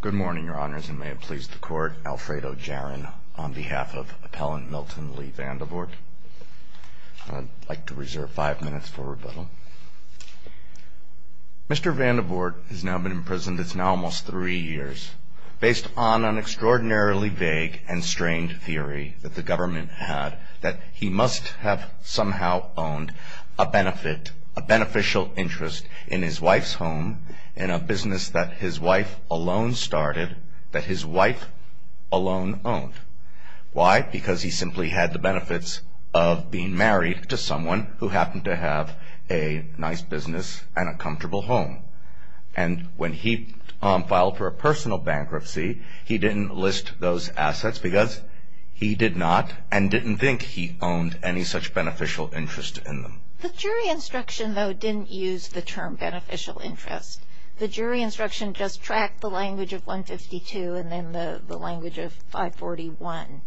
Good morning, Your Honors, and may it please the Court, Alfredo Jarin on behalf of Appellant Milton Lee Vandevort. I'd like to reserve five minutes for rebuttal. Mr. Vandevort has now been in prison, it's now almost three years, based on an extraordinarily vague and strained theory that the government had that he must have somehow owned a benefit, a beneficial interest in his wife's home, in a business that his wife alone started, that his wife alone owned. Why? Because he simply had the benefits of being married to someone who happened to have a nice business and a comfortable home. And when he filed for a personal bankruptcy, he didn't list those assets because he did not and didn't think he owned any such beneficial interest in them. The jury instruction, though, didn't use the term beneficial interest. The jury instruction just tracked the language of 152 and then the language of 541.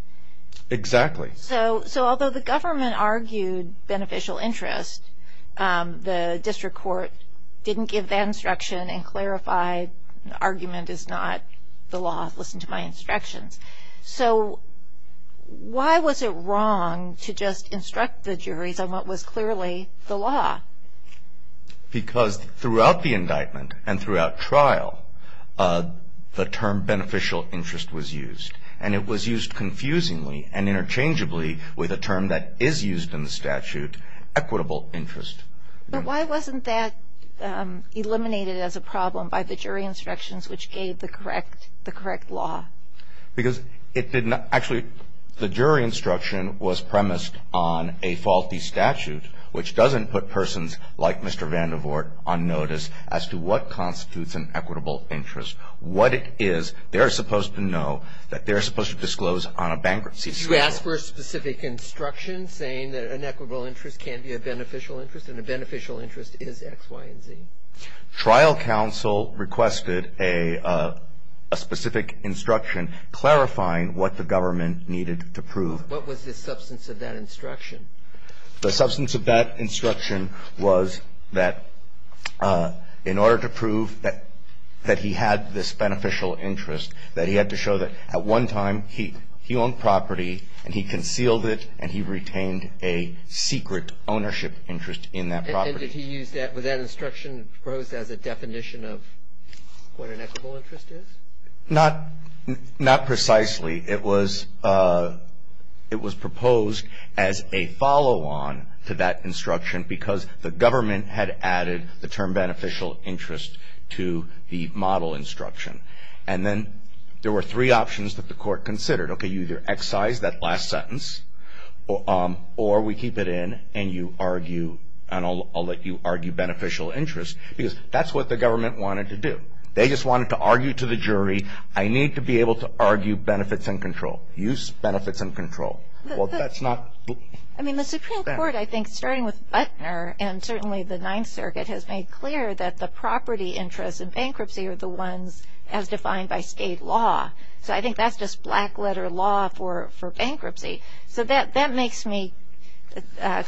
Exactly. So although the government argued beneficial interest, the district court didn't give that instruction and clarified, So why was it wrong to just instruct the juries on what was clearly the law? Because throughout the indictment and throughout trial, the term beneficial interest was used. And it was used confusingly and interchangeably with a term that is used in the statute, equitable interest. But why wasn't that eliminated as a problem by the jury instructions which gave the correct law? Because it did not – actually, the jury instruction was premised on a faulty statute which doesn't put persons like Mr. Vandervoort on notice as to what constitutes an equitable interest. What it is, they're supposed to know that they're supposed to disclose on a bankruptcy schedule. Did you ask for a specific instruction saying that an equitable interest can't be a beneficial interest and a beneficial interest is X, Y, and Z? Trial counsel requested a specific instruction clarifying what the government needed to prove. What was the substance of that instruction? The substance of that instruction was that in order to prove that he had this beneficial interest, that he had to show that at one time he owned property and he concealed it and he retained a secret ownership interest in that property. And did he use that – was that instruction proposed as a definition of what an equitable interest is? Not precisely. It was proposed as a follow-on to that instruction because the government had added the term beneficial interest to the model instruction. And then there were three options that the court considered. Okay, you either excise that last sentence or we keep it in and you argue and I'll let you argue beneficial interest because that's what the government wanted to do. They just wanted to argue to the jury, I need to be able to argue benefits and control. Use benefits and control. Well, that's not – I mean, the Supreme Court, I think, starting with Butner and certainly the Ninth Circuit, has made clear that the property interests in bankruptcy are the ones as defined by state law. So I think that's just black letter law for bankruptcy. So that makes me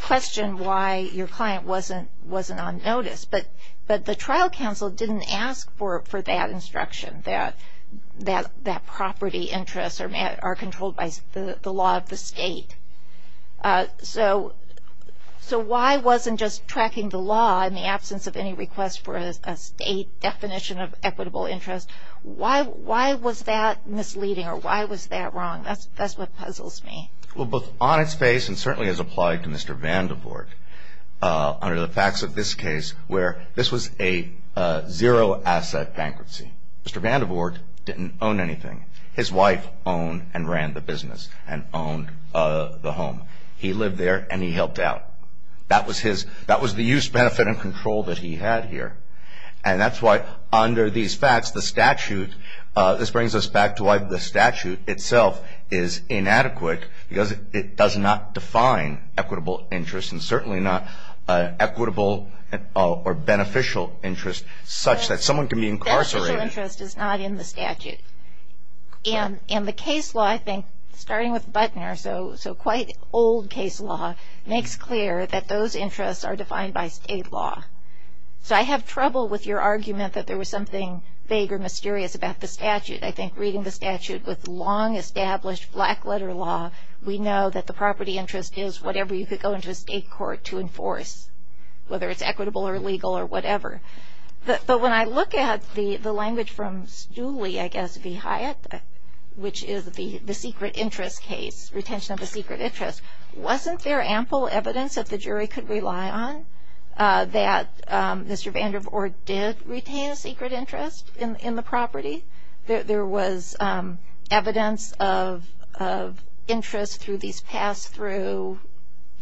question why your client wasn't on notice. But the trial counsel didn't ask for that instruction, that property interests are controlled by the law of the state. So why wasn't just tracking the law in the absence of any request for a state definition of equitable interest? Why was that misleading or why was that wrong? That's what puzzles me. Well, both on its face and certainly as applied to Mr. Vandervoort, under the facts of this case where this was a zero-asset bankruptcy. Mr. Vandervoort didn't own anything. His wife owned and ran the business and owned the home. He lived there and he helped out. That was the use, benefit, and control that he had here. And that's why under these facts, the statute, this brings us back to why the statute itself is inadequate because it does not define equitable interest and certainly not equitable or beneficial interest such that someone can be incarcerated. Beneficial interest is not in the statute. And the case law, I think, starting with Butner, so quite old case law makes clear that those interests are defined by state law. So I have trouble with your argument that there was something vague or mysterious about the statute. I think reading the statute with long-established black-letter law, we know that the property interest is whatever you could go into a state court to enforce, whether it's equitable or legal or whatever. But when I look at the language from Stooley, I guess, v. Hyatt, which is the secret interest case, retention of a secret interest, wasn't there ample evidence that the jury could rely on that Mr. Vandervoort did retain a secret interest in the property? There was evidence of interest through these pass-through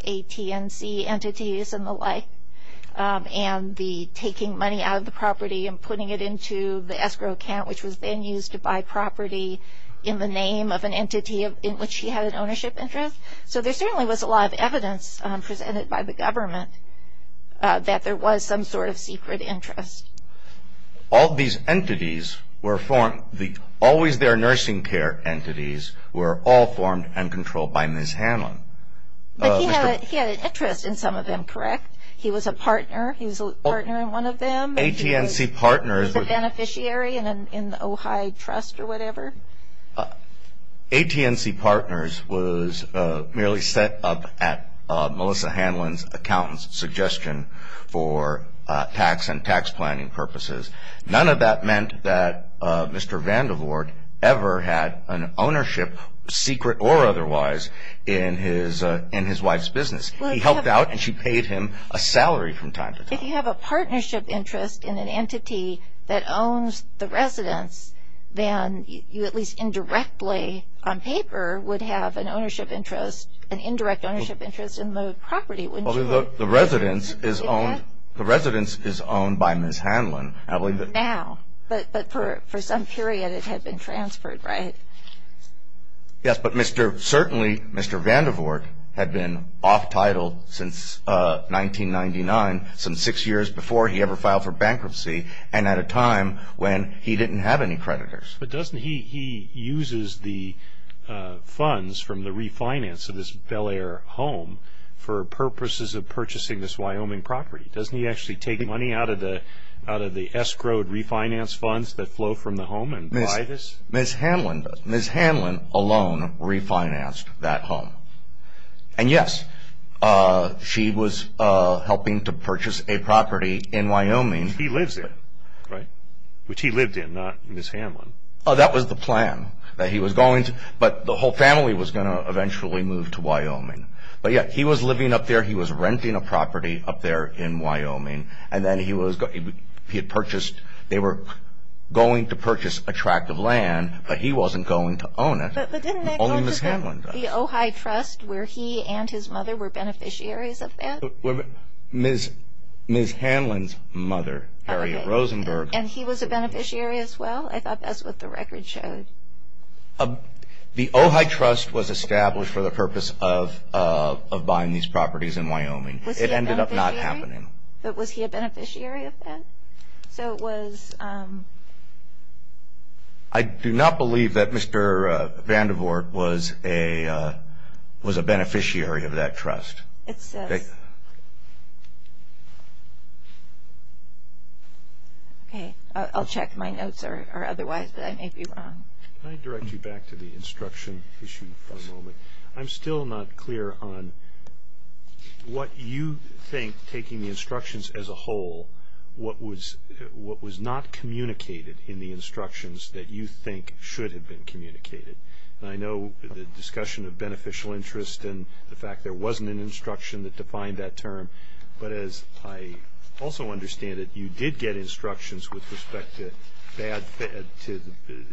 AT&C entities and the like and the taking money out of the property and putting it into the escrow account, which was then used to buy property in the name of an entity in which he had an ownership interest. So there certainly was a lot of evidence presented by the government that there was some sort of secret interest. All these entities were formed, always-there nursing care entities were all formed and controlled by Ms. Hanlon. But he had an interest in some of them, correct? He was a partner. He was a partner in one of them. AT&C partners. He was a beneficiary in the Ojai Trust or whatever. AT&C partners was merely set up at Melissa Hanlon's accountant's suggestion for tax and tax planning purposes. None of that meant that Mr. Vandervoort ever had an ownership, secret or otherwise, in his wife's business. He helped out and she paid him a salary from time to time. If you have a partnership interest in an entity that owns the residence, then you at least indirectly on paper would have an ownership interest, an indirect ownership interest in the property, wouldn't you? The residence is owned by Ms. Hanlon. Now. But for some period it had been transferred, right? Yes, but Mr. Certainly Mr. Vandervoort had been off title since 1999, some six years before he ever filed for bankruptcy and at a time when he didn't have any creditors. But doesn't he use the funds from the refinance of this Bel Air home for purposes of purchasing this Wyoming property? Doesn't he actually take money out of the escrowed refinance funds that flow from the home and buy this? Ms. Hanlon does. Ms. Hanlon alone refinanced that home. And yes, she was helping to purchase a property in Wyoming. Which he lives in, right? Which he lived in, not Ms. Hanlon. That was the plan that he was going to. But the whole family was going to eventually move to Wyoming. But yeah, he was living up there. He was renting a property up there in Wyoming. And then he had purchased, they were going to purchase a tract of land, but he wasn't going to own it. But didn't that go to the Ojai Trust where he and his mother were beneficiaries of that? Ms. Hanlon's mother, Harriet Rosenberg. And he was a beneficiary as well? I thought that's what the record showed. The Ojai Trust was established for the purpose of buying these properties in Wyoming. Was he a beneficiary? It ended up not happening. But was he a beneficiary of that? So it was... I do not believe that Mr. Vandervoort was a beneficiary of that trust. It says. Okay, I'll check my notes or otherwise, but I may be wrong. Can I direct you back to the instruction issue for a moment? I'm still not clear on what you think, taking the instructions as a whole, what was not communicated in the instructions that you think should have been communicated. And I know the discussion of beneficial interest and the fact there wasn't an instruction that defined that term. But as I also understand it, you did get instructions with respect to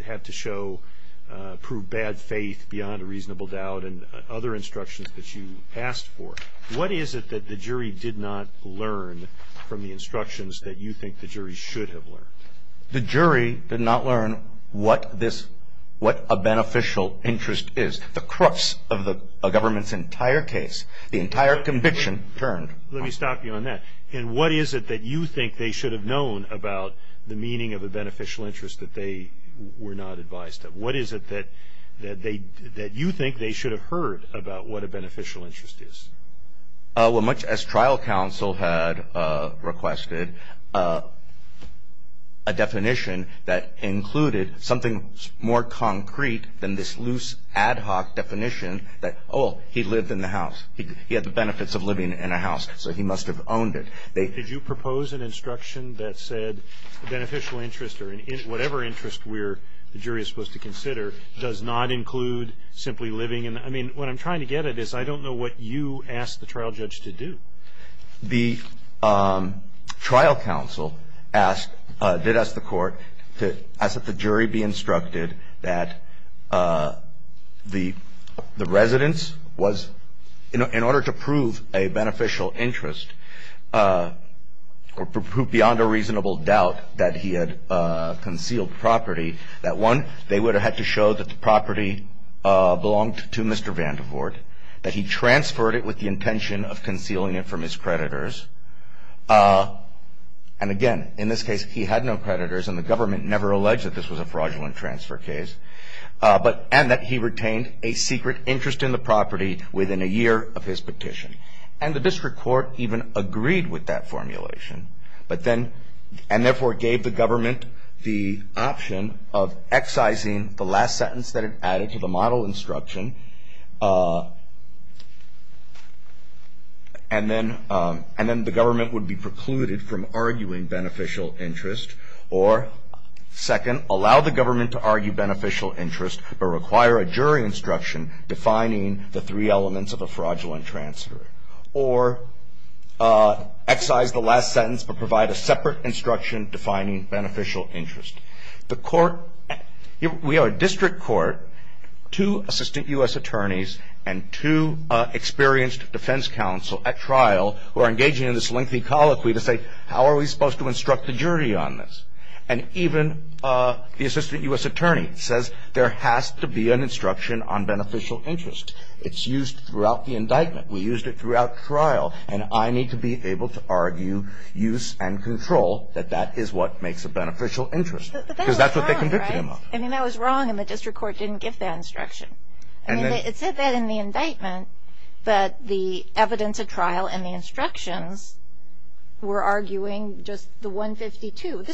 have to show, prove bad faith beyond a reasonable doubt and other instructions that you asked for. What is it that the jury did not learn from the instructions that you think the jury should have learned? The jury did not learn what a beneficial interest is. The crux of a government's entire case, the entire conviction turned. Let me stop you on that. And what is it that you think they should have known about the meaning of a beneficial interest that they were not advised of? What is it that you think they should have heard about what a beneficial interest is? Well, much as trial counsel had requested, a definition that included something more concrete than this loose ad hoc definition that, oh, he lived in the house. He had the benefits of living in a house, so he must have owned it. Did you propose an instruction that said beneficial interest or whatever interest the jury is supposed to consider does not include simply living in the house? I mean, what I'm trying to get at is I don't know what you asked the trial judge to do. The trial counsel did ask the court to ask that the jury be instructed that the residence was, in order to prove a beneficial interest or prove beyond a reasonable doubt that he had concealed property, that one, they would have had to show that the property belonged to Mr. Vandervoort, that he transferred it with the intention of concealing it from his creditors. And again, in this case, he had no creditors, and the government never alleged that this was a fraudulent transfer case, and that he retained a secret interest in the property within a year of his petition. And the district court even agreed with that formulation, and therefore gave the government the option of excising the last sentence that it added to the model instruction, and then the government would be precluded from arguing beneficial interest, or second, allow the government to argue beneficial interest, but require a jury instruction defining the three elements of a fraudulent transfer, or excise the last sentence but provide a separate instruction defining beneficial interest. The court, we have a district court, two assistant U.S. attorneys, and two experienced defense counsel at trial who are engaging in this lengthy colloquy to say, how are we supposed to instruct the jury on this? And even the assistant U.S. attorney says there has to be an instruction on beneficial interest. It's used throughout the indictment. We used it throughout the trial. And I need to be able to argue use and control that that is what makes a beneficial interest. Because that's what they convicted him of. But that was wrong, right? I mean, that was wrong, and the district court didn't give that instruction. I mean, it said that in the indictment, but the evidence at trial and the instructions were arguing just the 152.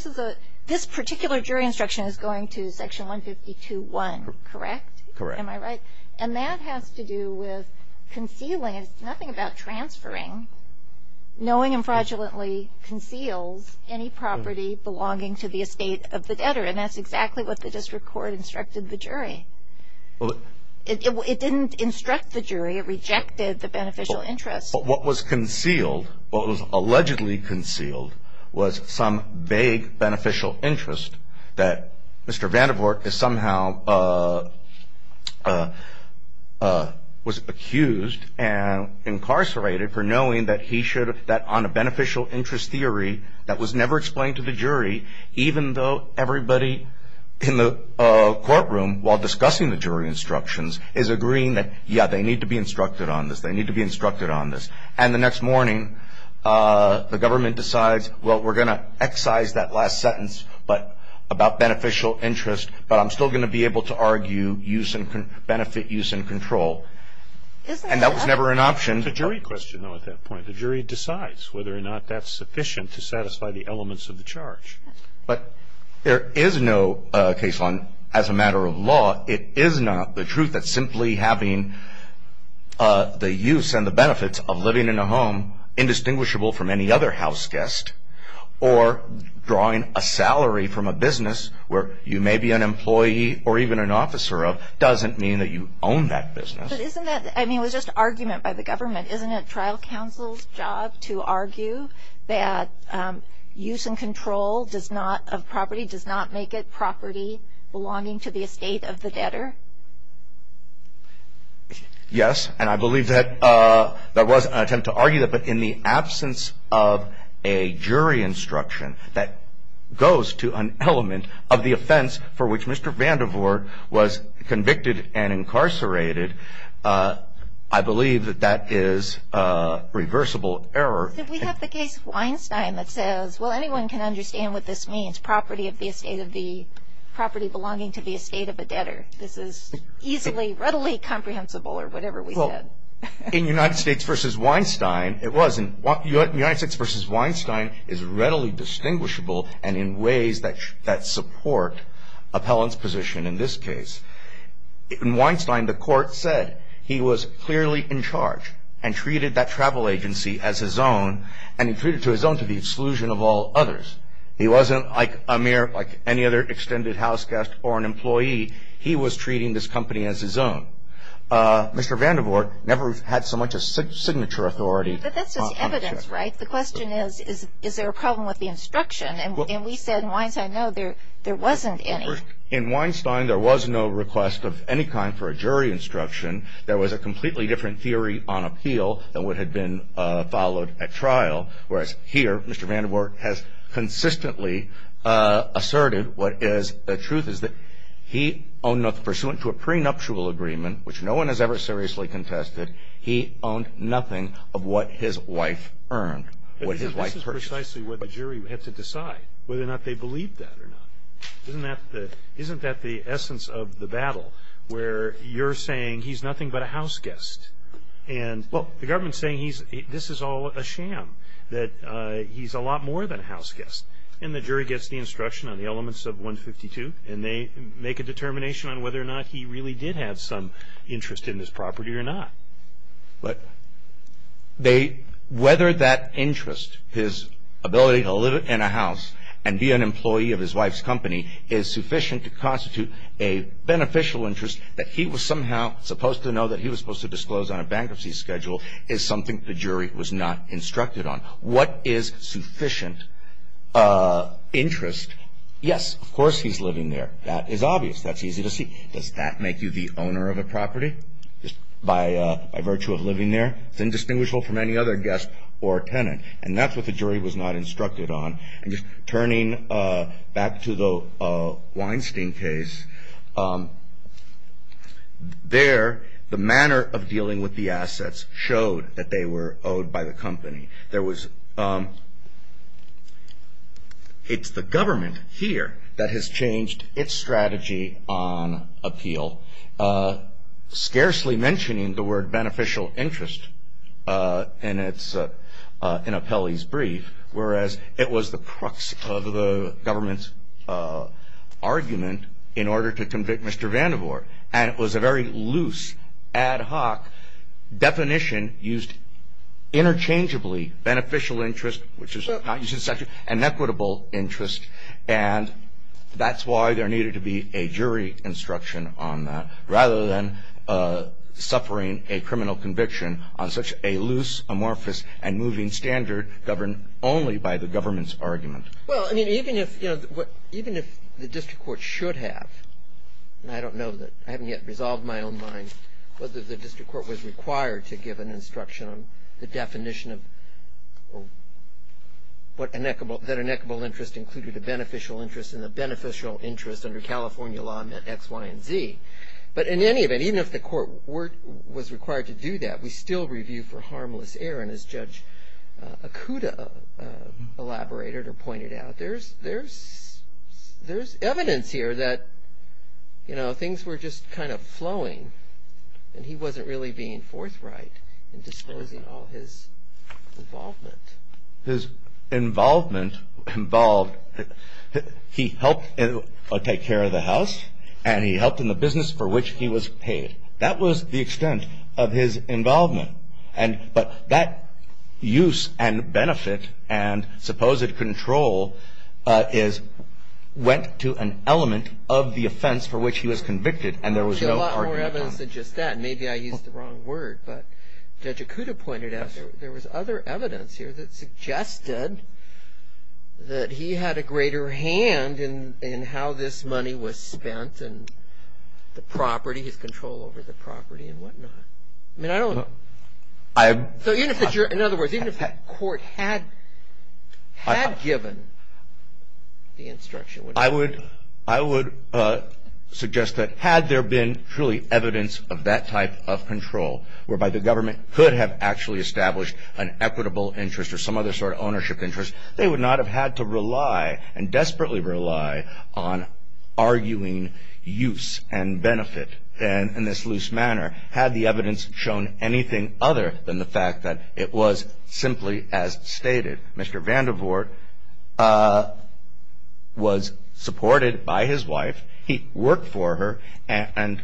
This particular jury instruction is going to Section 152.1, correct? Correct. Am I right? And that has to do with concealing. It's nothing about transferring. Knowing and fraudulently conceals any property belonging to the estate of the debtor. And that's exactly what the district court instructed the jury. It didn't instruct the jury. It rejected the beneficial interest. But what was concealed, what was allegedly concealed, was some vague beneficial interest that Mr. Vandervoort is somehow was accused and incarcerated for knowing that he should, that on a beneficial interest theory that was never explained to the jury, even though everybody in the courtroom while discussing the jury instructions is agreeing that, yeah, they need to be instructed on this, they need to be instructed on this. And the next morning, the government decides, well, we're going to excise that last sentence, but, about beneficial interest, but I'm still going to be able to argue use and benefit use and control. And that was never an option. It's a jury question, though, at that point. The jury decides whether or not that's sufficient to satisfy the elements of the charge. But there is no case on, as a matter of law, it is not the truth that simply having the use and the benefits of living in a home indistinguishable from any other house guest or drawing a salary from a business where you may be an employee or even an officer of doesn't mean that you own that business. But isn't that, I mean, it was just argument by the government. Isn't it trial counsel's job to argue that use and control does not, of property, does not make it property belonging to the estate of the debtor? Yes, and I believe that there was an attempt to argue that. But in the absence of a jury instruction that goes to an element of the offense for which Mr. Vandervoort was convicted and incarcerated, I believe that that is a reversible error. Did we have the case of Weinstein that says, well, anyone can understand what this means, property of the estate of the, property belonging to the estate of a debtor. This is easily, readily comprehensible or whatever we said. In United States v. Weinstein, it wasn't. United States v. Weinstein is readily distinguishable and in ways that support appellant's position in this case. In Weinstein, the court said he was clearly in charge and treated that travel agency as his own and he treated it as his own to the exclusion of all others. He wasn't like a mere, like any other extended house guest or an employee. He was treating this company as his own. Mr. Vandervoort never had so much a signature authority. But that's just evidence, right? The question is, is there a problem with the instruction? And we said in Weinstein, no, there wasn't any. In Weinstein, there was no request of any kind for a jury instruction. There was a completely different theory on appeal than what had been followed at trial. Whereas here, Mr. Vandervoort has consistently asserted what is the truth, is that he, pursuant to a prenuptial agreement, which no one has ever seriously contested, he owned nothing of what his wife earned, what his wife purchased. This is precisely what the jury had to decide, whether or not they believed that or not. Isn't that the essence of the battle, where you're saying he's nothing but a house guest? Well, the government's saying this is all a sham, that he's a lot more than a house guest. And the jury gets the instruction on the elements of 152, and they make a determination on whether or not he really did have some interest in this property or not. But whether that interest, his ability to live in a house and be an employee of his wife's company, is sufficient to constitute a beneficial interest, that he was somehow supposed to know that he was supposed to disclose on a bankruptcy schedule, is something the jury was not instructed on. What is sufficient interest? Yes, of course he's living there. That is obvious. That's easy to see. Does that make you the owner of a property, just by virtue of living there? It's indistinguishable from any other guest or tenant. And that's what the jury was not instructed on. And just turning back to the Weinstein case, there, the manner of dealing with the assets showed that they were owed by the company. It's the government here that has changed its strategy on appeal, scarcely mentioning the word beneficial interest in Apelli's brief, whereas it was the crux of the government's argument in order to convict Mr. Vandervoort. And it was a very loose, ad hoc definition used interchangeably. Beneficial interest, which is not used in section, and equitable interest. And that's why there needed to be a jury instruction on that, rather than suffering a criminal conviction on such a loose, amorphous, and moving standard governed only by the government's argument. Well, I mean, even if, you know, even if the district court should have, and I don't know that, I haven't yet resolved my own mind, whether the district court was required to give an instruction on the definition of what, that an equitable interest included a beneficial interest, and the beneficial interest under California law meant X, Y, and Z. But in any event, even if the court was required to do that, we still review for harmless error. And as Judge Okuda elaborated or pointed out, there's evidence here that, you know, things were just kind of flowing, and he wasn't really being forthright in disposing all his involvement. His involvement involved, he helped take care of the house, and he helped in the business for which he was paid. That was the extent of his involvement. But that use and benefit and supposed control is, went to an element of the offense for which he was convicted, and there was no argument on it. There's a lot more evidence than just that. Maybe I used the wrong word, but Judge Okuda pointed out there was other evidence here that suggested that he had a greater hand in how this money was spent, and the property, his control over the property and whatnot. I mean, I don't. So even if you're, in other words, even if that court had given the instruction. I would suggest that had there been truly evidence of that type of control, whereby the government could have actually established an equitable interest or some other sort of ownership interest, they would not have had to rely and desperately rely on arguing use and benefit in this loose manner. Had the evidence shown anything other than the fact that it was simply as stated. Mr. Vandervoort was supported by his wife. He worked for her, and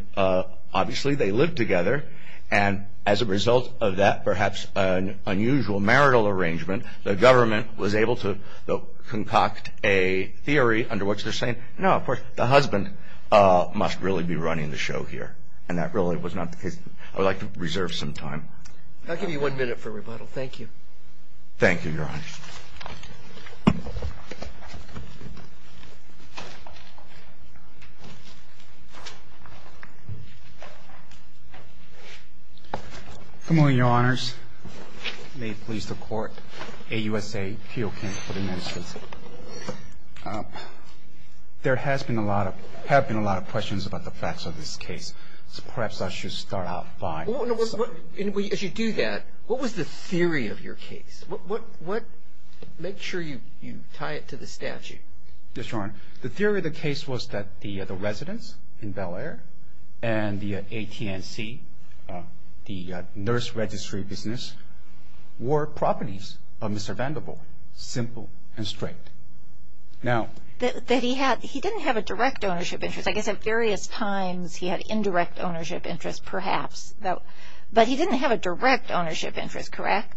obviously they lived together, and as a result of that perhaps unusual marital arrangement, the government was able to concoct a theory under which they're saying, no, of course, the husband must really be running the show here, and that really was not the case. I would like to reserve some time. I'll give you one minute for rebuttal. Thank you. Thank you, Your Honor. Good morning, Your Honors. May it please the Court. AUSA, P.O. Camp for the Ministry. There have been a lot of questions about the facts of this case, so perhaps I should start out by. As you do that, what was the theory of your case? Make sure you tie it to the statute. Yes, Your Honor. The theory of the case was that the residence in Bel Air and the AT&T, the nurse registry business, were properties of Mr. Vandervoort, simple and straight. He didn't have a direct ownership interest. I guess at various times he had indirect ownership interest perhaps, but he didn't have a direct ownership interest, correct,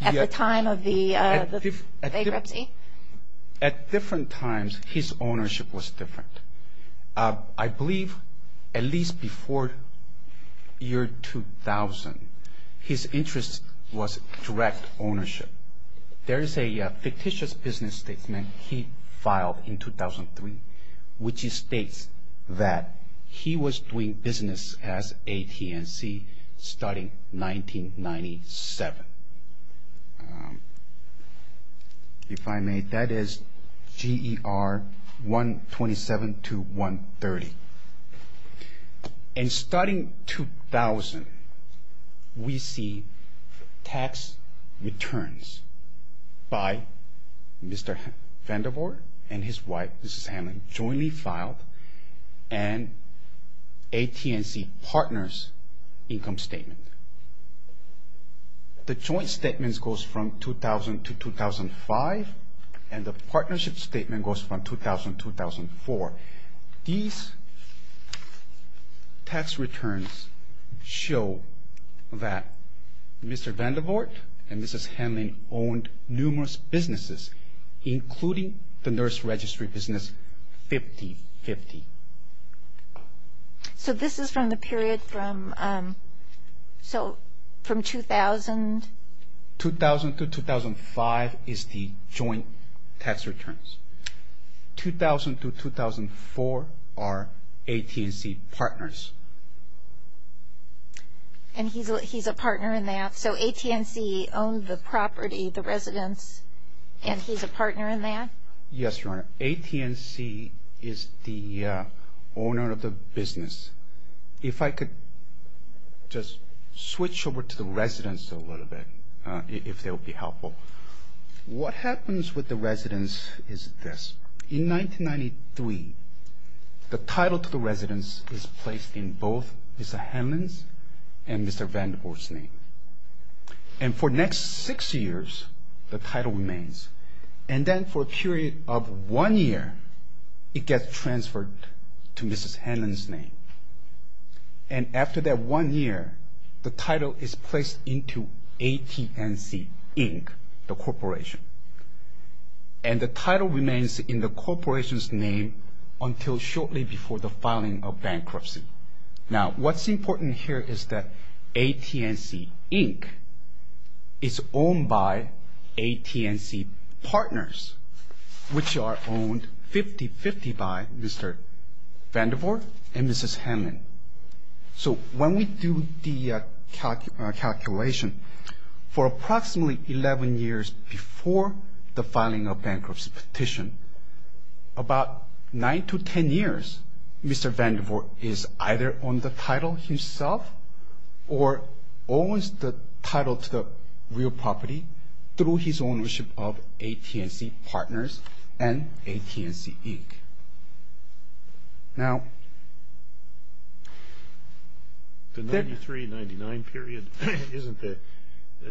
at the time of the bankruptcy? At different times, his ownership was different. I believe at least before year 2000, his interest was direct ownership. There is a fictitious business statement he filed in 2003, which states that he was doing business as AT&T starting 1997. If I may, that is GER 127 to 130. And starting 2000, we see tax returns by Mr. Vandervoort and his wife, Mrs. Hanlon, jointly filed, and AT&T partners income statement. The joint statements goes from 2000 to 2005, and the partnership statement goes from 2000 to 2004. These tax returns show that Mr. Vandervoort and Mrs. Hanlon owned numerous businesses, including the nurse registry business 50-50. So this is from the period from 2000? 2000 to 2005 is the joint tax returns. 2000 to 2004 are AT&T partners. And he's a partner in that? So AT&T owned the property, the residence, and he's a partner in that? Yes, Your Honor. AT&T is the owner of the business. If I could just switch over to the residence a little bit, if that would be helpful. What happens with the residence is this. In 1993, the title to the residence is placed in both Mr. Hanlon's and Mr. Vandervoort's name. And for the next six years, the title remains. And then for a period of one year, it gets transferred to Mrs. Hanlon's name. And after that one year, the title is placed into AT&C, Inc., the corporation. And the title remains in the corporation's name until shortly before the filing of bankruptcy. Now, what's important here is that AT&C, Inc. is owned by AT&C partners, which are owned 50-50 by Mr. Vandervoort and Mrs. Hanlon. So when we do the calculation, for approximately 11 years before the filing of bankruptcy petition, about 9 to 10 years, Mr. Vandervoort is either on the title himself or owns the title to the real property through his ownership of AT&C partners and AT&C, Inc. Now, the 93-99 period, isn't the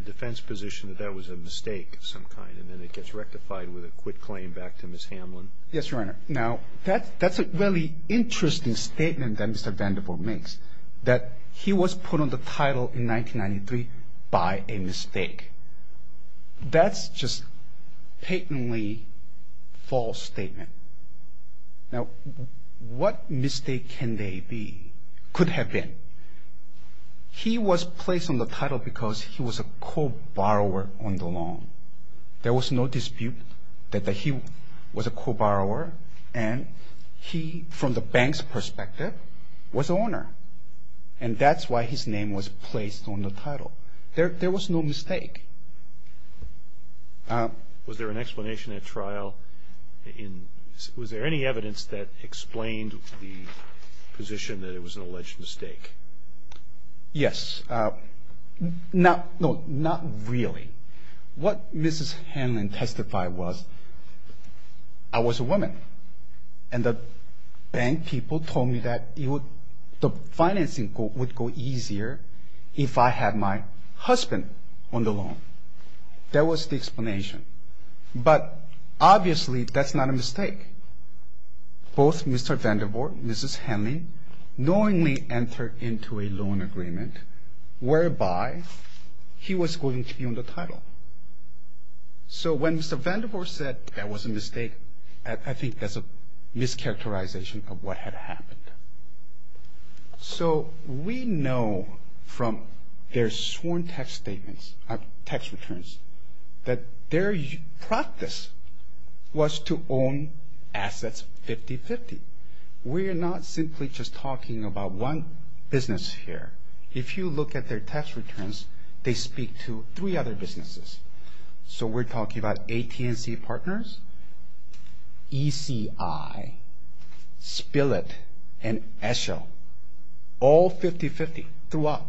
defense position that that was a mistake of some kind and then it gets rectified with a quit claim back to Mrs. Hanlon? Yes, Your Honor. Now, that's a really interesting statement that Mr. Vandervoort makes, that he was put on the title in 1993 by a mistake. That's just patently false statement. Now, what mistake can they be, could have been? He was placed on the title because he was a co-borrower on the loan. There was no dispute that he was a co-borrower and he, from the bank's perspective, was the owner. And that's why his name was placed on the title. There was no mistake. Was there an explanation at trial? Was there any evidence that explained the position that it was an alleged mistake? Yes. No, not really. What Mrs. Hanlon testified was, I was a woman and the bank people told me that the financing would go easier if I had my husband on the loan. That was the explanation. But obviously, that's not a mistake. Both Mr. Vandervoort and Mrs. Hanlon knowingly entered into a loan agreement whereby he was going to be on the title. So when Mr. Vandervoort said that was a mistake, I think that's a mischaracterization of what had happened. So we know from their sworn tax returns that their practice was to own assets 50-50. We are not simply just talking about one business here. If you look at their tax returns, they speak to three other businesses. So we're talking about AT&T Partners, ECI, Spill It, and Esho. All 50-50 throughout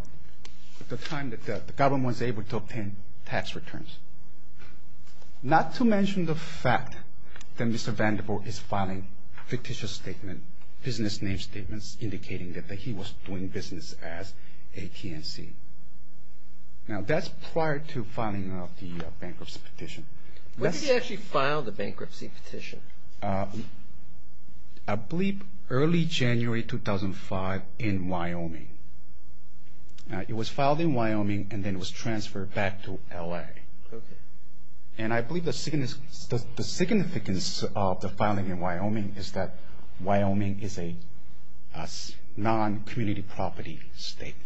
the time that the government was able to obtain tax returns. Not to mention the fact that Mr. Vandervoort is filing fictitious statements, business name statements indicating that he was doing business as AT&T. Now, that's prior to filing the bankruptcy petition. When did he actually file the bankruptcy petition? I believe early January 2005 in Wyoming. It was filed in Wyoming and then it was transferred back to L.A. And I believe the significance of the filing in Wyoming is that Wyoming is a non-community property state.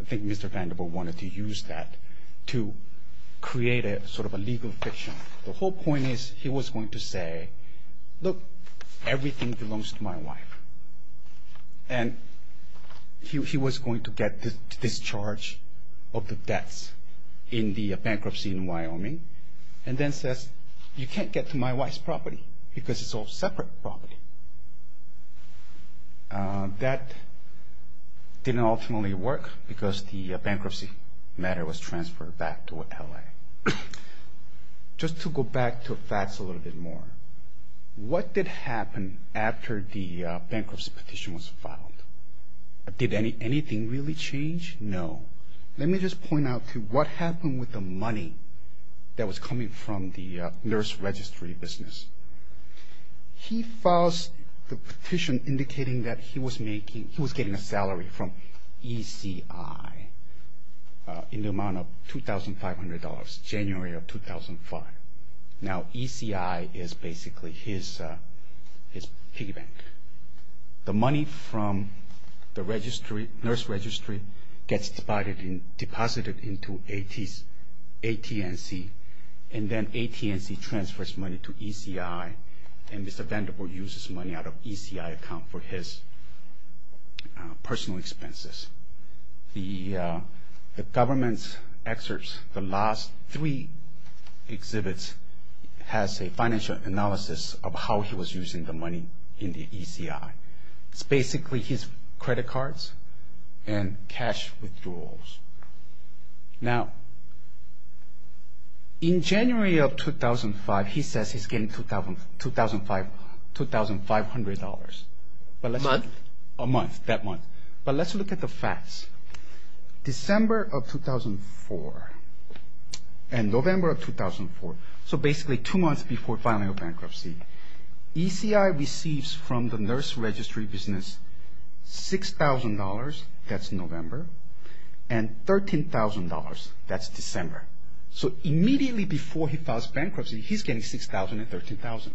I think Mr. Vandervoort wanted to use that to create sort of a legal fiction. The whole point is he was going to say, look, everything belongs to my wife. And he was going to get the discharge of the debts in the bankruptcy in Wyoming and then says, you can't get to my wife's property because it's all separate property. That didn't ultimately work because the bankruptcy matter was transferred back to L.A. Just to go back to Fats a little bit more, what did happen after the bankruptcy petition was filed? Did anything really change? No. Let me just point out to what happened with the money that was coming from the nurse registry business. He files the petition indicating that he was getting a salary from ECI in the amount of $2,500 January of 2005. Now, ECI is basically his piggy bank. The money from the nurse registry gets deposited into AT&C and then AT&C transfers money to ECI and Mr. Vandervoort uses money out of ECI account for his personal expenses. The government's excerpts, the last three exhibits has a financial analysis of how he was using the money in the ECI. It's basically his credit cards and cash withdrawals. Now, in January of 2005, he says he's getting $2,500. A month? A month, that month. But let's look at the facts. December of 2004 and November of 2004, so basically two months before filing a bankruptcy, ECI receives from the nurse registry business $6,000, that's November, and $13,000, that's December. So immediately before he files bankruptcy, he's getting $6,000 and $13,000.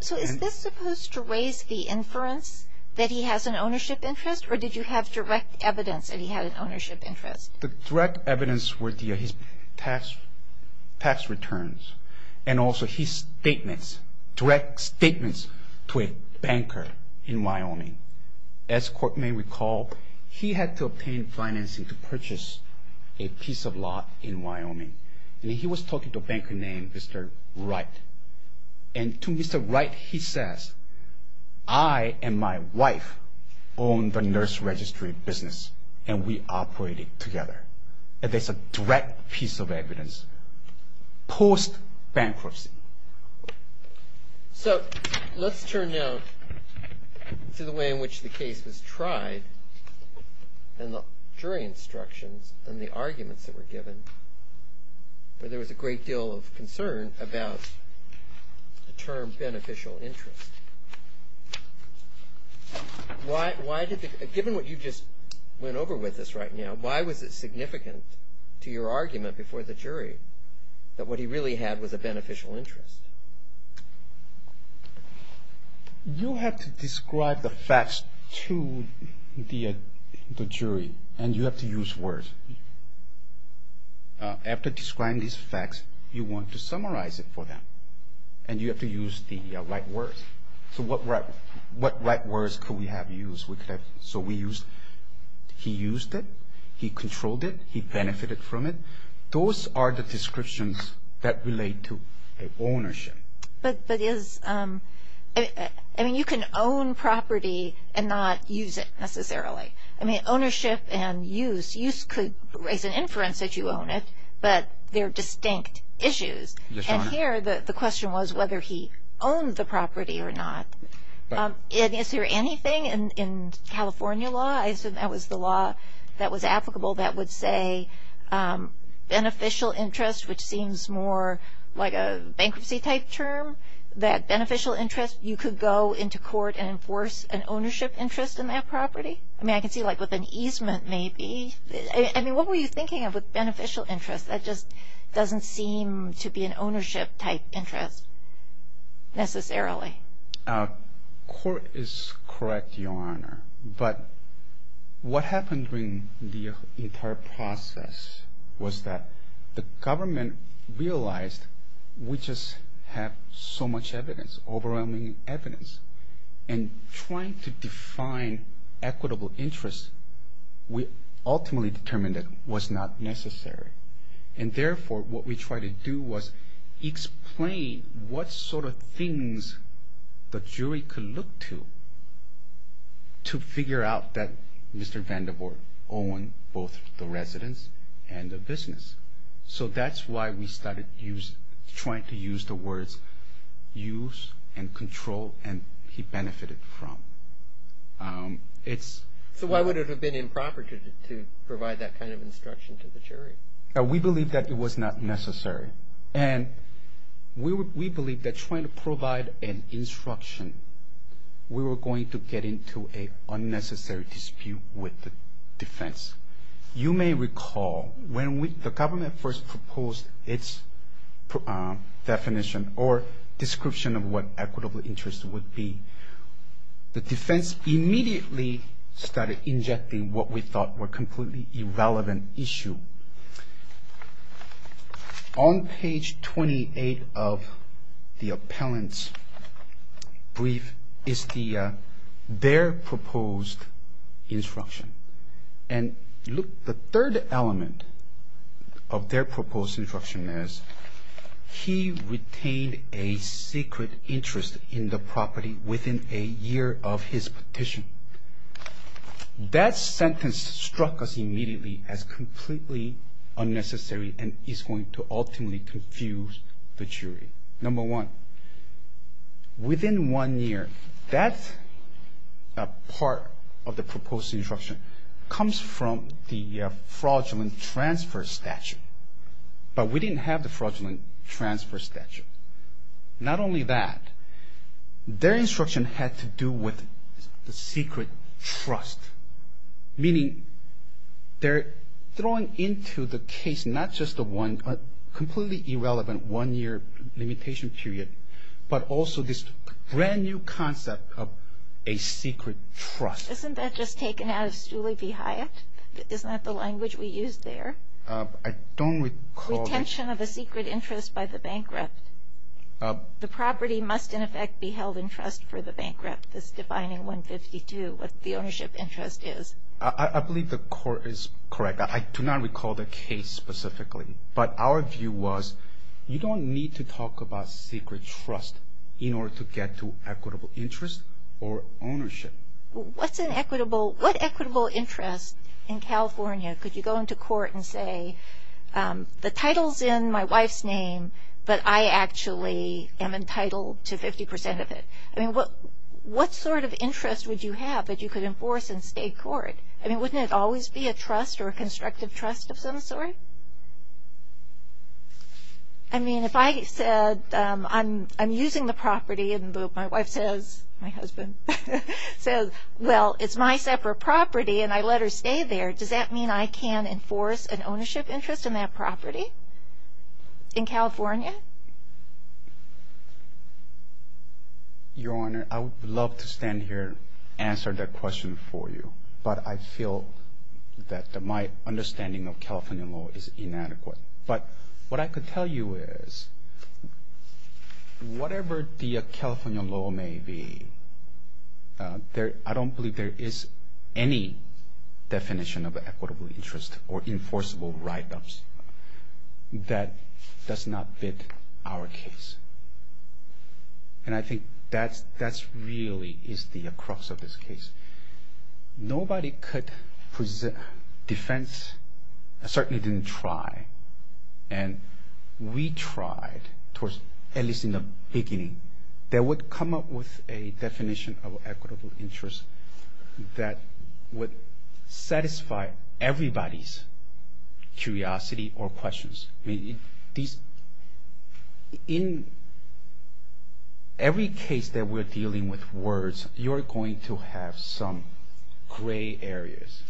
So is this supposed to raise the inference that he has an ownership interest or did you have direct evidence that he had an ownership interest? The direct evidence were his tax returns and also his statements, direct statements to a banker in Wyoming. As court may recall, he had to obtain financing to purchase a piece of lot in Wyoming. And he was talking to a banker named Mr. Wright. And to Mr. Wright, he says, I and my wife own the nurse registry business and we operate it together. And that's a direct piece of evidence post-bankruptcy. So let's turn now to the way in which the case was tried and the jury instructions and the arguments that were given where there was a great deal of concern about the term beneficial interest. Given what you just went over with us right now, why was it significant to your argument before the jury that what he really had was a beneficial interest? You have to describe the facts to the jury and you have to use words. After describing these facts, you want to summarize it for them. And you have to use the right words. So what right words could we have used? So we used, he used it, he controlled it, he benefited from it. Those are the descriptions that relate to ownership. But is, I mean, you can own property and not use it necessarily. I mean, ownership and use, use could raise an inference that you own it, but they're distinct issues. And here the question was whether he owned the property or not. Is there anything in California law, I assume that was the law that was applicable, that would say beneficial interest, which seems more like a bankruptcy-type term, that beneficial interest you could go into court and enforce an ownership interest in that property? I mean, I can see like with an easement maybe. I mean, what were you thinking of with beneficial interest? That just doesn't seem to be an ownership-type interest necessarily. Court is correct, Your Honor. But what happened during the entire process was that the government realized we just have so much evidence, overwhelming evidence. And trying to define equitable interest, we ultimately determined it was not necessary. And therefore, what we tried to do was explain what sort of things the jury could look to, to figure out that Mr. Vandiver owned both the residence and the business. So that's why we started trying to use the words use and control and he benefited from. So why would it have been improper to provide that kind of instruction to the jury? We believe that it was not necessary. And we believe that trying to provide an instruction, we were going to get into an unnecessary dispute with the defense. You may recall when the government first proposed its definition or description of what equitable interest would be, the defense immediately started injecting what we thought were completely irrelevant issue. On page 28 of the appellant's brief is their proposed instruction. And look, the third element of their proposed instruction is he retained a secret interest in the property within a year of his petition. That sentence struck us immediately as completely unnecessary and is going to ultimately confuse the jury. Number one, within one year, that part of the proposed instruction comes from the fraudulent transfer statute. But we didn't have the fraudulent transfer statute. Not only that, their instruction had to do with the secret trust, meaning they're throwing into the case not just the one, completely irrelevant one-year limitation period, but also this brand-new concept of a secret trust. Isn't that just taken out of Stooley v. Hyatt? Isn't that the language we used there? I don't recall it. Retention of a secret interest by the bankrupt. The property must, in effect, be held in trust for the bankrupt. That's defining 152, what the ownership interest is. I believe the court is correct. I do not recall the case specifically. But our view was you don't need to talk about secret trust in order to get to equitable interest or ownership. What's an equitable, what equitable interest in California could you go into court and say the title's in my wife's name, but I actually am entitled to 50% of it? I mean, what sort of interest would you have that you could enforce in state court? I mean, wouldn't it always be a trust or a constructive trust of some sort? I mean, if I said I'm using the property and my wife says, my husband says, well, it's my separate property and I let her stay there, does that mean I can enforce an ownership interest in that property in California? Your Honor, I would love to stand here and answer that question for you. But I feel that my understanding of California law is inadequate. But what I could tell you is whatever the California law may be, I don't believe there is any definition of equitable interest or enforceable write-ups that does not fit our case. And I think that really is the crux of this case. Nobody could defend, certainly didn't try, and we tried, at least in the beginning, that would come up with a definition of equitable interest that would satisfy everybody's curiosity or questions. I mean, in every case that we're dealing with words, you're going to have some gray areas.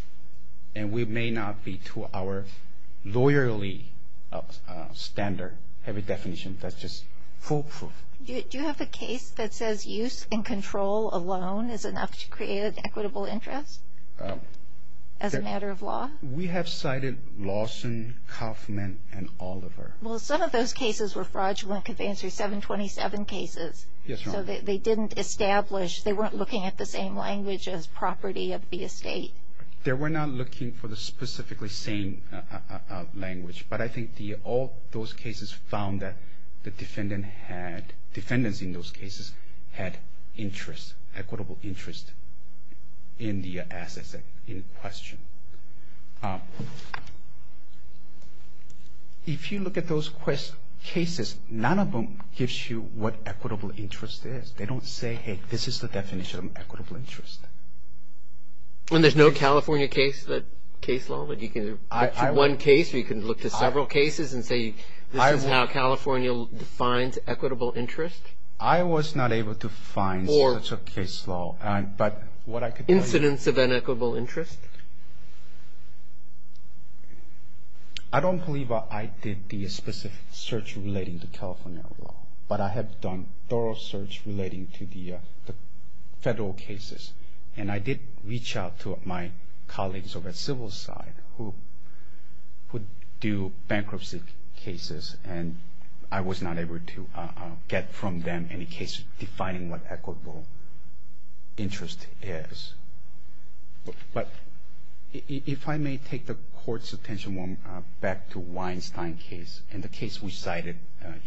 And we may not be to our lawyerly standard, have a definition that's just foolproof. Do you have a case that says use and control alone is enough to create an equitable interest as a matter of law? We have cited Lawson, Kauffman, and Oliver. Well, some of those cases were fraudulent, because they answered 727 cases. Yes, Your Honor. So they didn't establish, they weren't looking at the same language as property of the estate. They were not looking for the specifically same language. But I think all those cases found that the defendant had, defendants in those cases had interest, equitable interest in the assets in question. If you look at those cases, none of them gives you what equitable interest is. They don't say, hey, this is the definition of equitable interest. And there's no California case law that you can look to one case or you can look to several cases and say this is how California defines equitable interest? I was not able to find such a case law. Incidents of inequitable interest? I don't believe I did the specific search relating to California law. But I have done thorough search relating to the federal cases. And I did reach out to my colleagues over at Civil Society who do bankruptcy cases, and I was not able to get from them any case defining what equitable interest is. But if I may take the Court's attention back to Weinstein case and the case we cited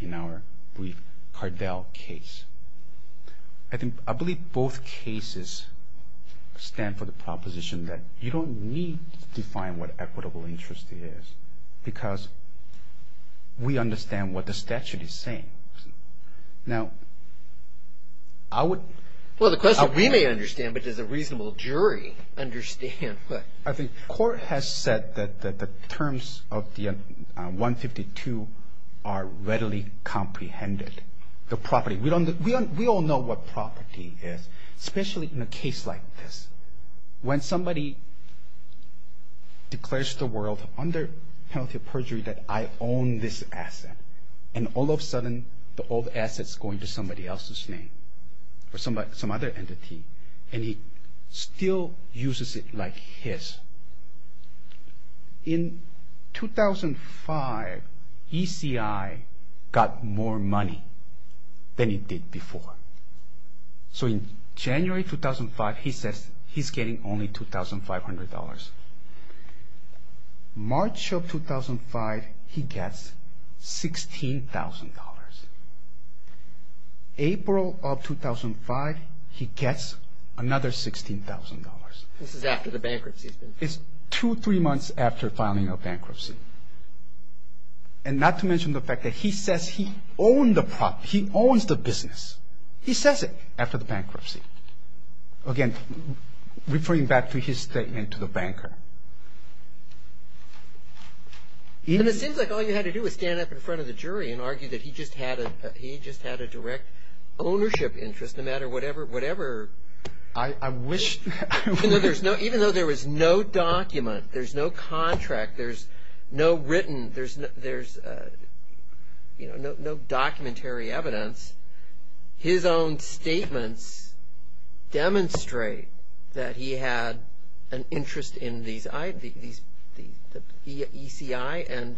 in our brief Cardell case, I believe both cases stand for the proposition that you don't need to define what equitable interest is because we understand what the statute is saying. Now, I would... Well, the question we may understand, but does a reasonable jury understand? I think the Court has said that the terms of the 152 are readily comprehended. The property. We all know what property is, especially in a case like this. When somebody declares to the world under penalty of perjury that I own this asset, and all of a sudden the old asset is going to somebody else's name or some other entity, and he still uses it like his. In 2005, ECI got more money than it did before. So in January 2005, he says he's getting only $2,500. March of 2005, he gets $16,000. April of 2005, he gets another $16,000. This is after the bankruptcy. It's two, three months after filing a bankruptcy. And not to mention the fact that he says he owns the property, he owns the business. He says it after the bankruptcy. Again, referring back to his statement to the banker. And it seems like all you had to do was stand up in front of the jury and argue that he just had a direct ownership interest, no matter whatever. I wish. Even though there was no document, there's no contract, there's no written, there's no documentary evidence, his own statements demonstrate that he had an interest in the ECI and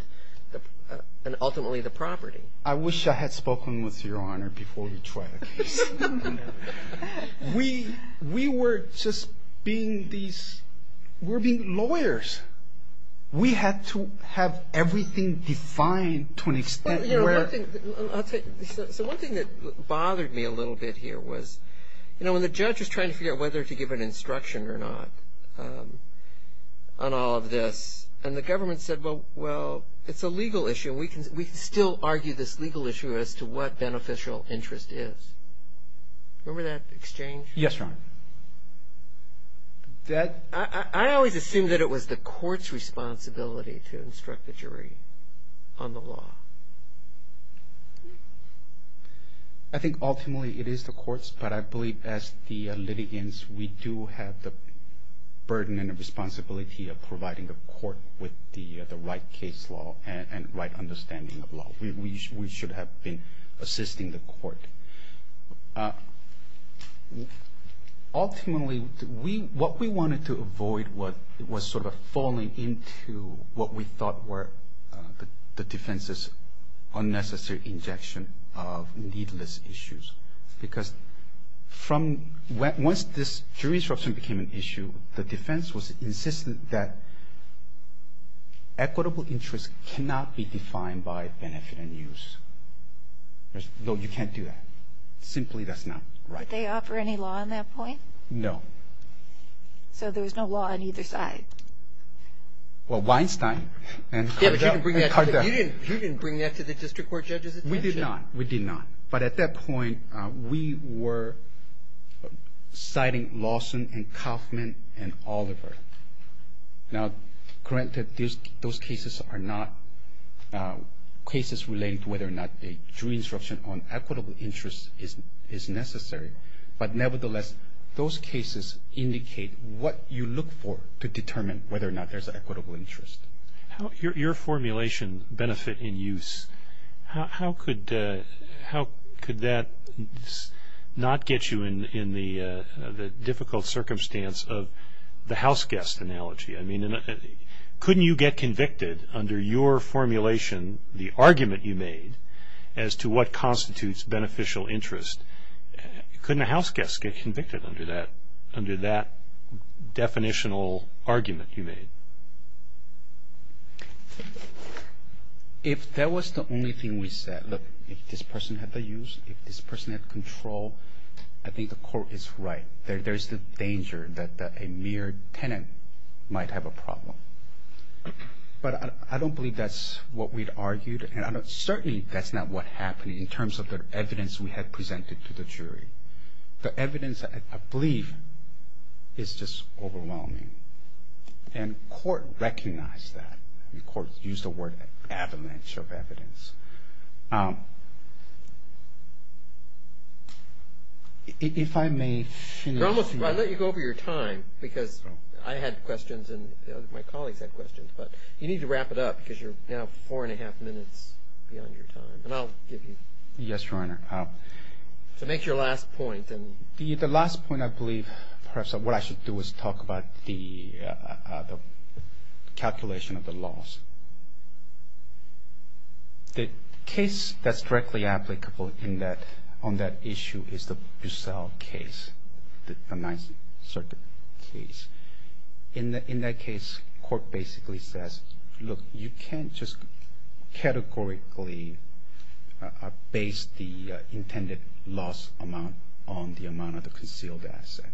ultimately the property. I wish I had spoken with Your Honor before we tried the case. We were just being lawyers. We had to have everything defined to an extent. So one thing that bothered me a little bit here was, you know, when the judge was trying to figure out whether to give an instruction or not on all of this, and the government said, well, it's a legal issue. We can still argue this legal issue as to what beneficial interest is. Remember that exchange? Yes, Your Honor. I always assumed that it was the court's responsibility to instruct the jury on the law. I think ultimately it is the court's, but I believe as the litigants we do have the burden and the responsibility of providing the court with the right case law and right understanding of law. Ultimately, what we wanted to avoid was sort of falling into what we thought were the defense's unnecessary injection of needless issues. Because once this jury instruction became an issue, the defense was insistent that equitable interest cannot be defined by benefit and use. No, you can't do that. Simply that's not right. Did they offer any law on that point? No. So there was no law on either side? Well, Weinstein and Cardell. You didn't bring that to the district court judge's attention. We did not. We did not. But at that point, we were citing Lawson and Kaufman and Oliver. Now, granted those cases are not cases relating to whether or not a jury instruction on equitable interest is necessary, but nevertheless those cases indicate what you look for to determine whether or not there's an equitable interest. Your formulation, benefit and use, how could that not get you in the difficult circumstance of the houseguest analogy? I mean, couldn't you get convicted under your formulation, the argument you made, as to what constitutes beneficial interest? Couldn't a houseguest get convicted under that definitional argument you made? If that was the only thing we said, look, if this person had the use, if this person had control, I think the court is right. There's the danger that a mere tenant might have a problem. But I don't believe that's what we'd argued, and certainly that's not what happened in terms of the evidence we had presented to the jury. The evidence, I believe, is just overwhelming. And court recognized that. The court used the word avalanche of evidence. If I may finish. I'll let you go over your time because I had questions and my colleagues had questions. But you need to wrap it up because you're now four and a half minutes beyond your time. And I'll give you. Yes, Your Honor. To make your last point. The last point, I believe, perhaps what I should do is talk about the calculation of the laws. The case that's directly applicable on that issue is the Bussell case, the Ninth Circuit case. In that case, court basically says, look, you can't just categorically base the intended loss amount on the amount of the concealed asset.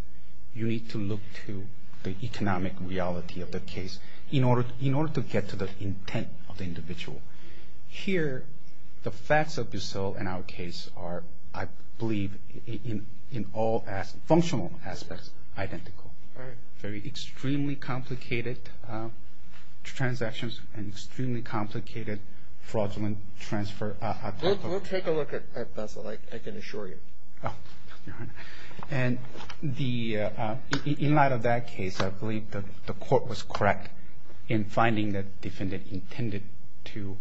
You need to look to the economic reality of the case in order to get to the intent of the individual. Here, the facts of Bussell and our case are, I believe, in all functional aspects, identical. Very extremely complicated transactions and extremely complicated fraudulent transfer. We'll take a look at Bussell. I can assure you. And in light of that case, I believe the court was correct in finding that the defendant intended to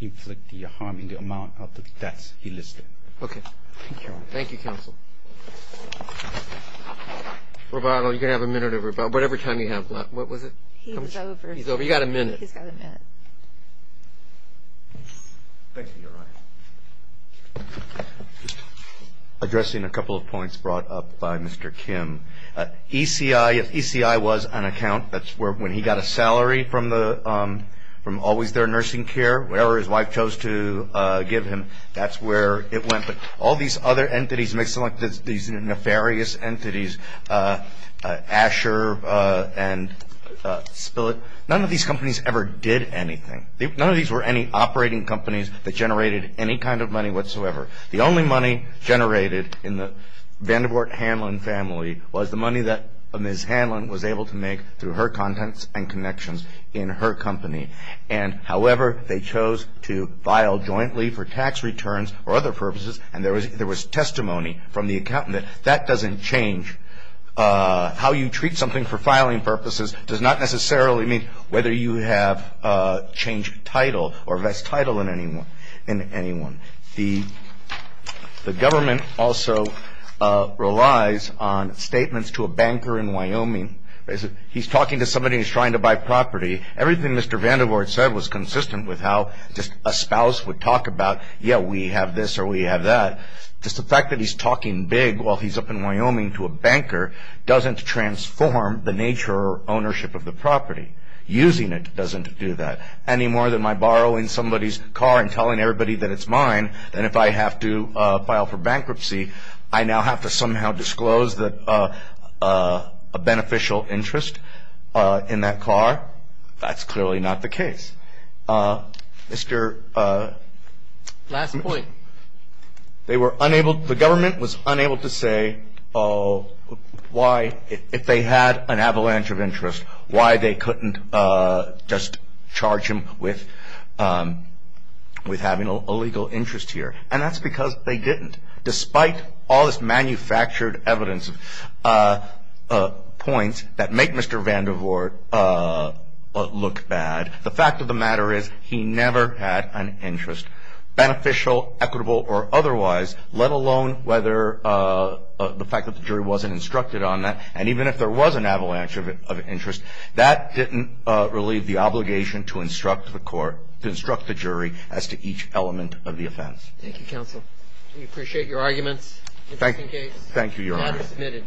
inflict the harm in the amount of the debts he listed. Okay. Thank you, counsel. Roboto, you're going to have a minute or whatever time you have left. What was it? He's over. He's over. He's got a minute. Thank you, Your Honor. Just addressing a couple of points brought up by Mr. Kim. ECI was an account. That's where when he got a salary from Always There Nursing Care, whatever his wife chose to give him, that's where it went. But all these other entities, these nefarious entities, Asher and Spillett, none of these companies ever did anything. None of these were any operating companies that generated any kind of money whatsoever. The only money generated in the Vanderbilt Hanlon family was the money that Ms. Hanlon was able to make through her contents and connections in her company. And, however, they chose to file jointly for tax returns or other purposes, and there was testimony from the accountant that that doesn't change. How you treat something for filing purposes does not necessarily mean whether you have changed title or vest title in anyone. The government also relies on statements to a banker in Wyoming. He's talking to somebody who's trying to buy property. Everything Mr. Vanderbilt said was consistent with how just a spouse would talk about, yeah, we have this or we have that. Just the fact that he's talking big while he's up in Wyoming to a banker doesn't transform the nature or ownership of the property. Using it doesn't do that. Any more than my borrowing somebody's car and telling everybody that it's mine, and if I have to file for bankruptcy, I now have to somehow disclose a beneficial interest in that car. That's clearly not the case. Last point. They were unable, the government was unable to say why, if they had an avalanche of interest, why they couldn't just charge him with having a legal interest here. And that's because they didn't, despite all this manufactured evidence of points that make Mr. Vanderbilt look bad. The fact of the matter is he never had an interest, beneficial, equitable, or otherwise, let alone whether the fact that the jury wasn't instructed on that. And even if there was an avalanche of interest, that didn't relieve the obligation to instruct the court, to instruct the jury as to each element of the offense. Thank you, counsel. We appreciate your arguments. Thank you, Your Honor.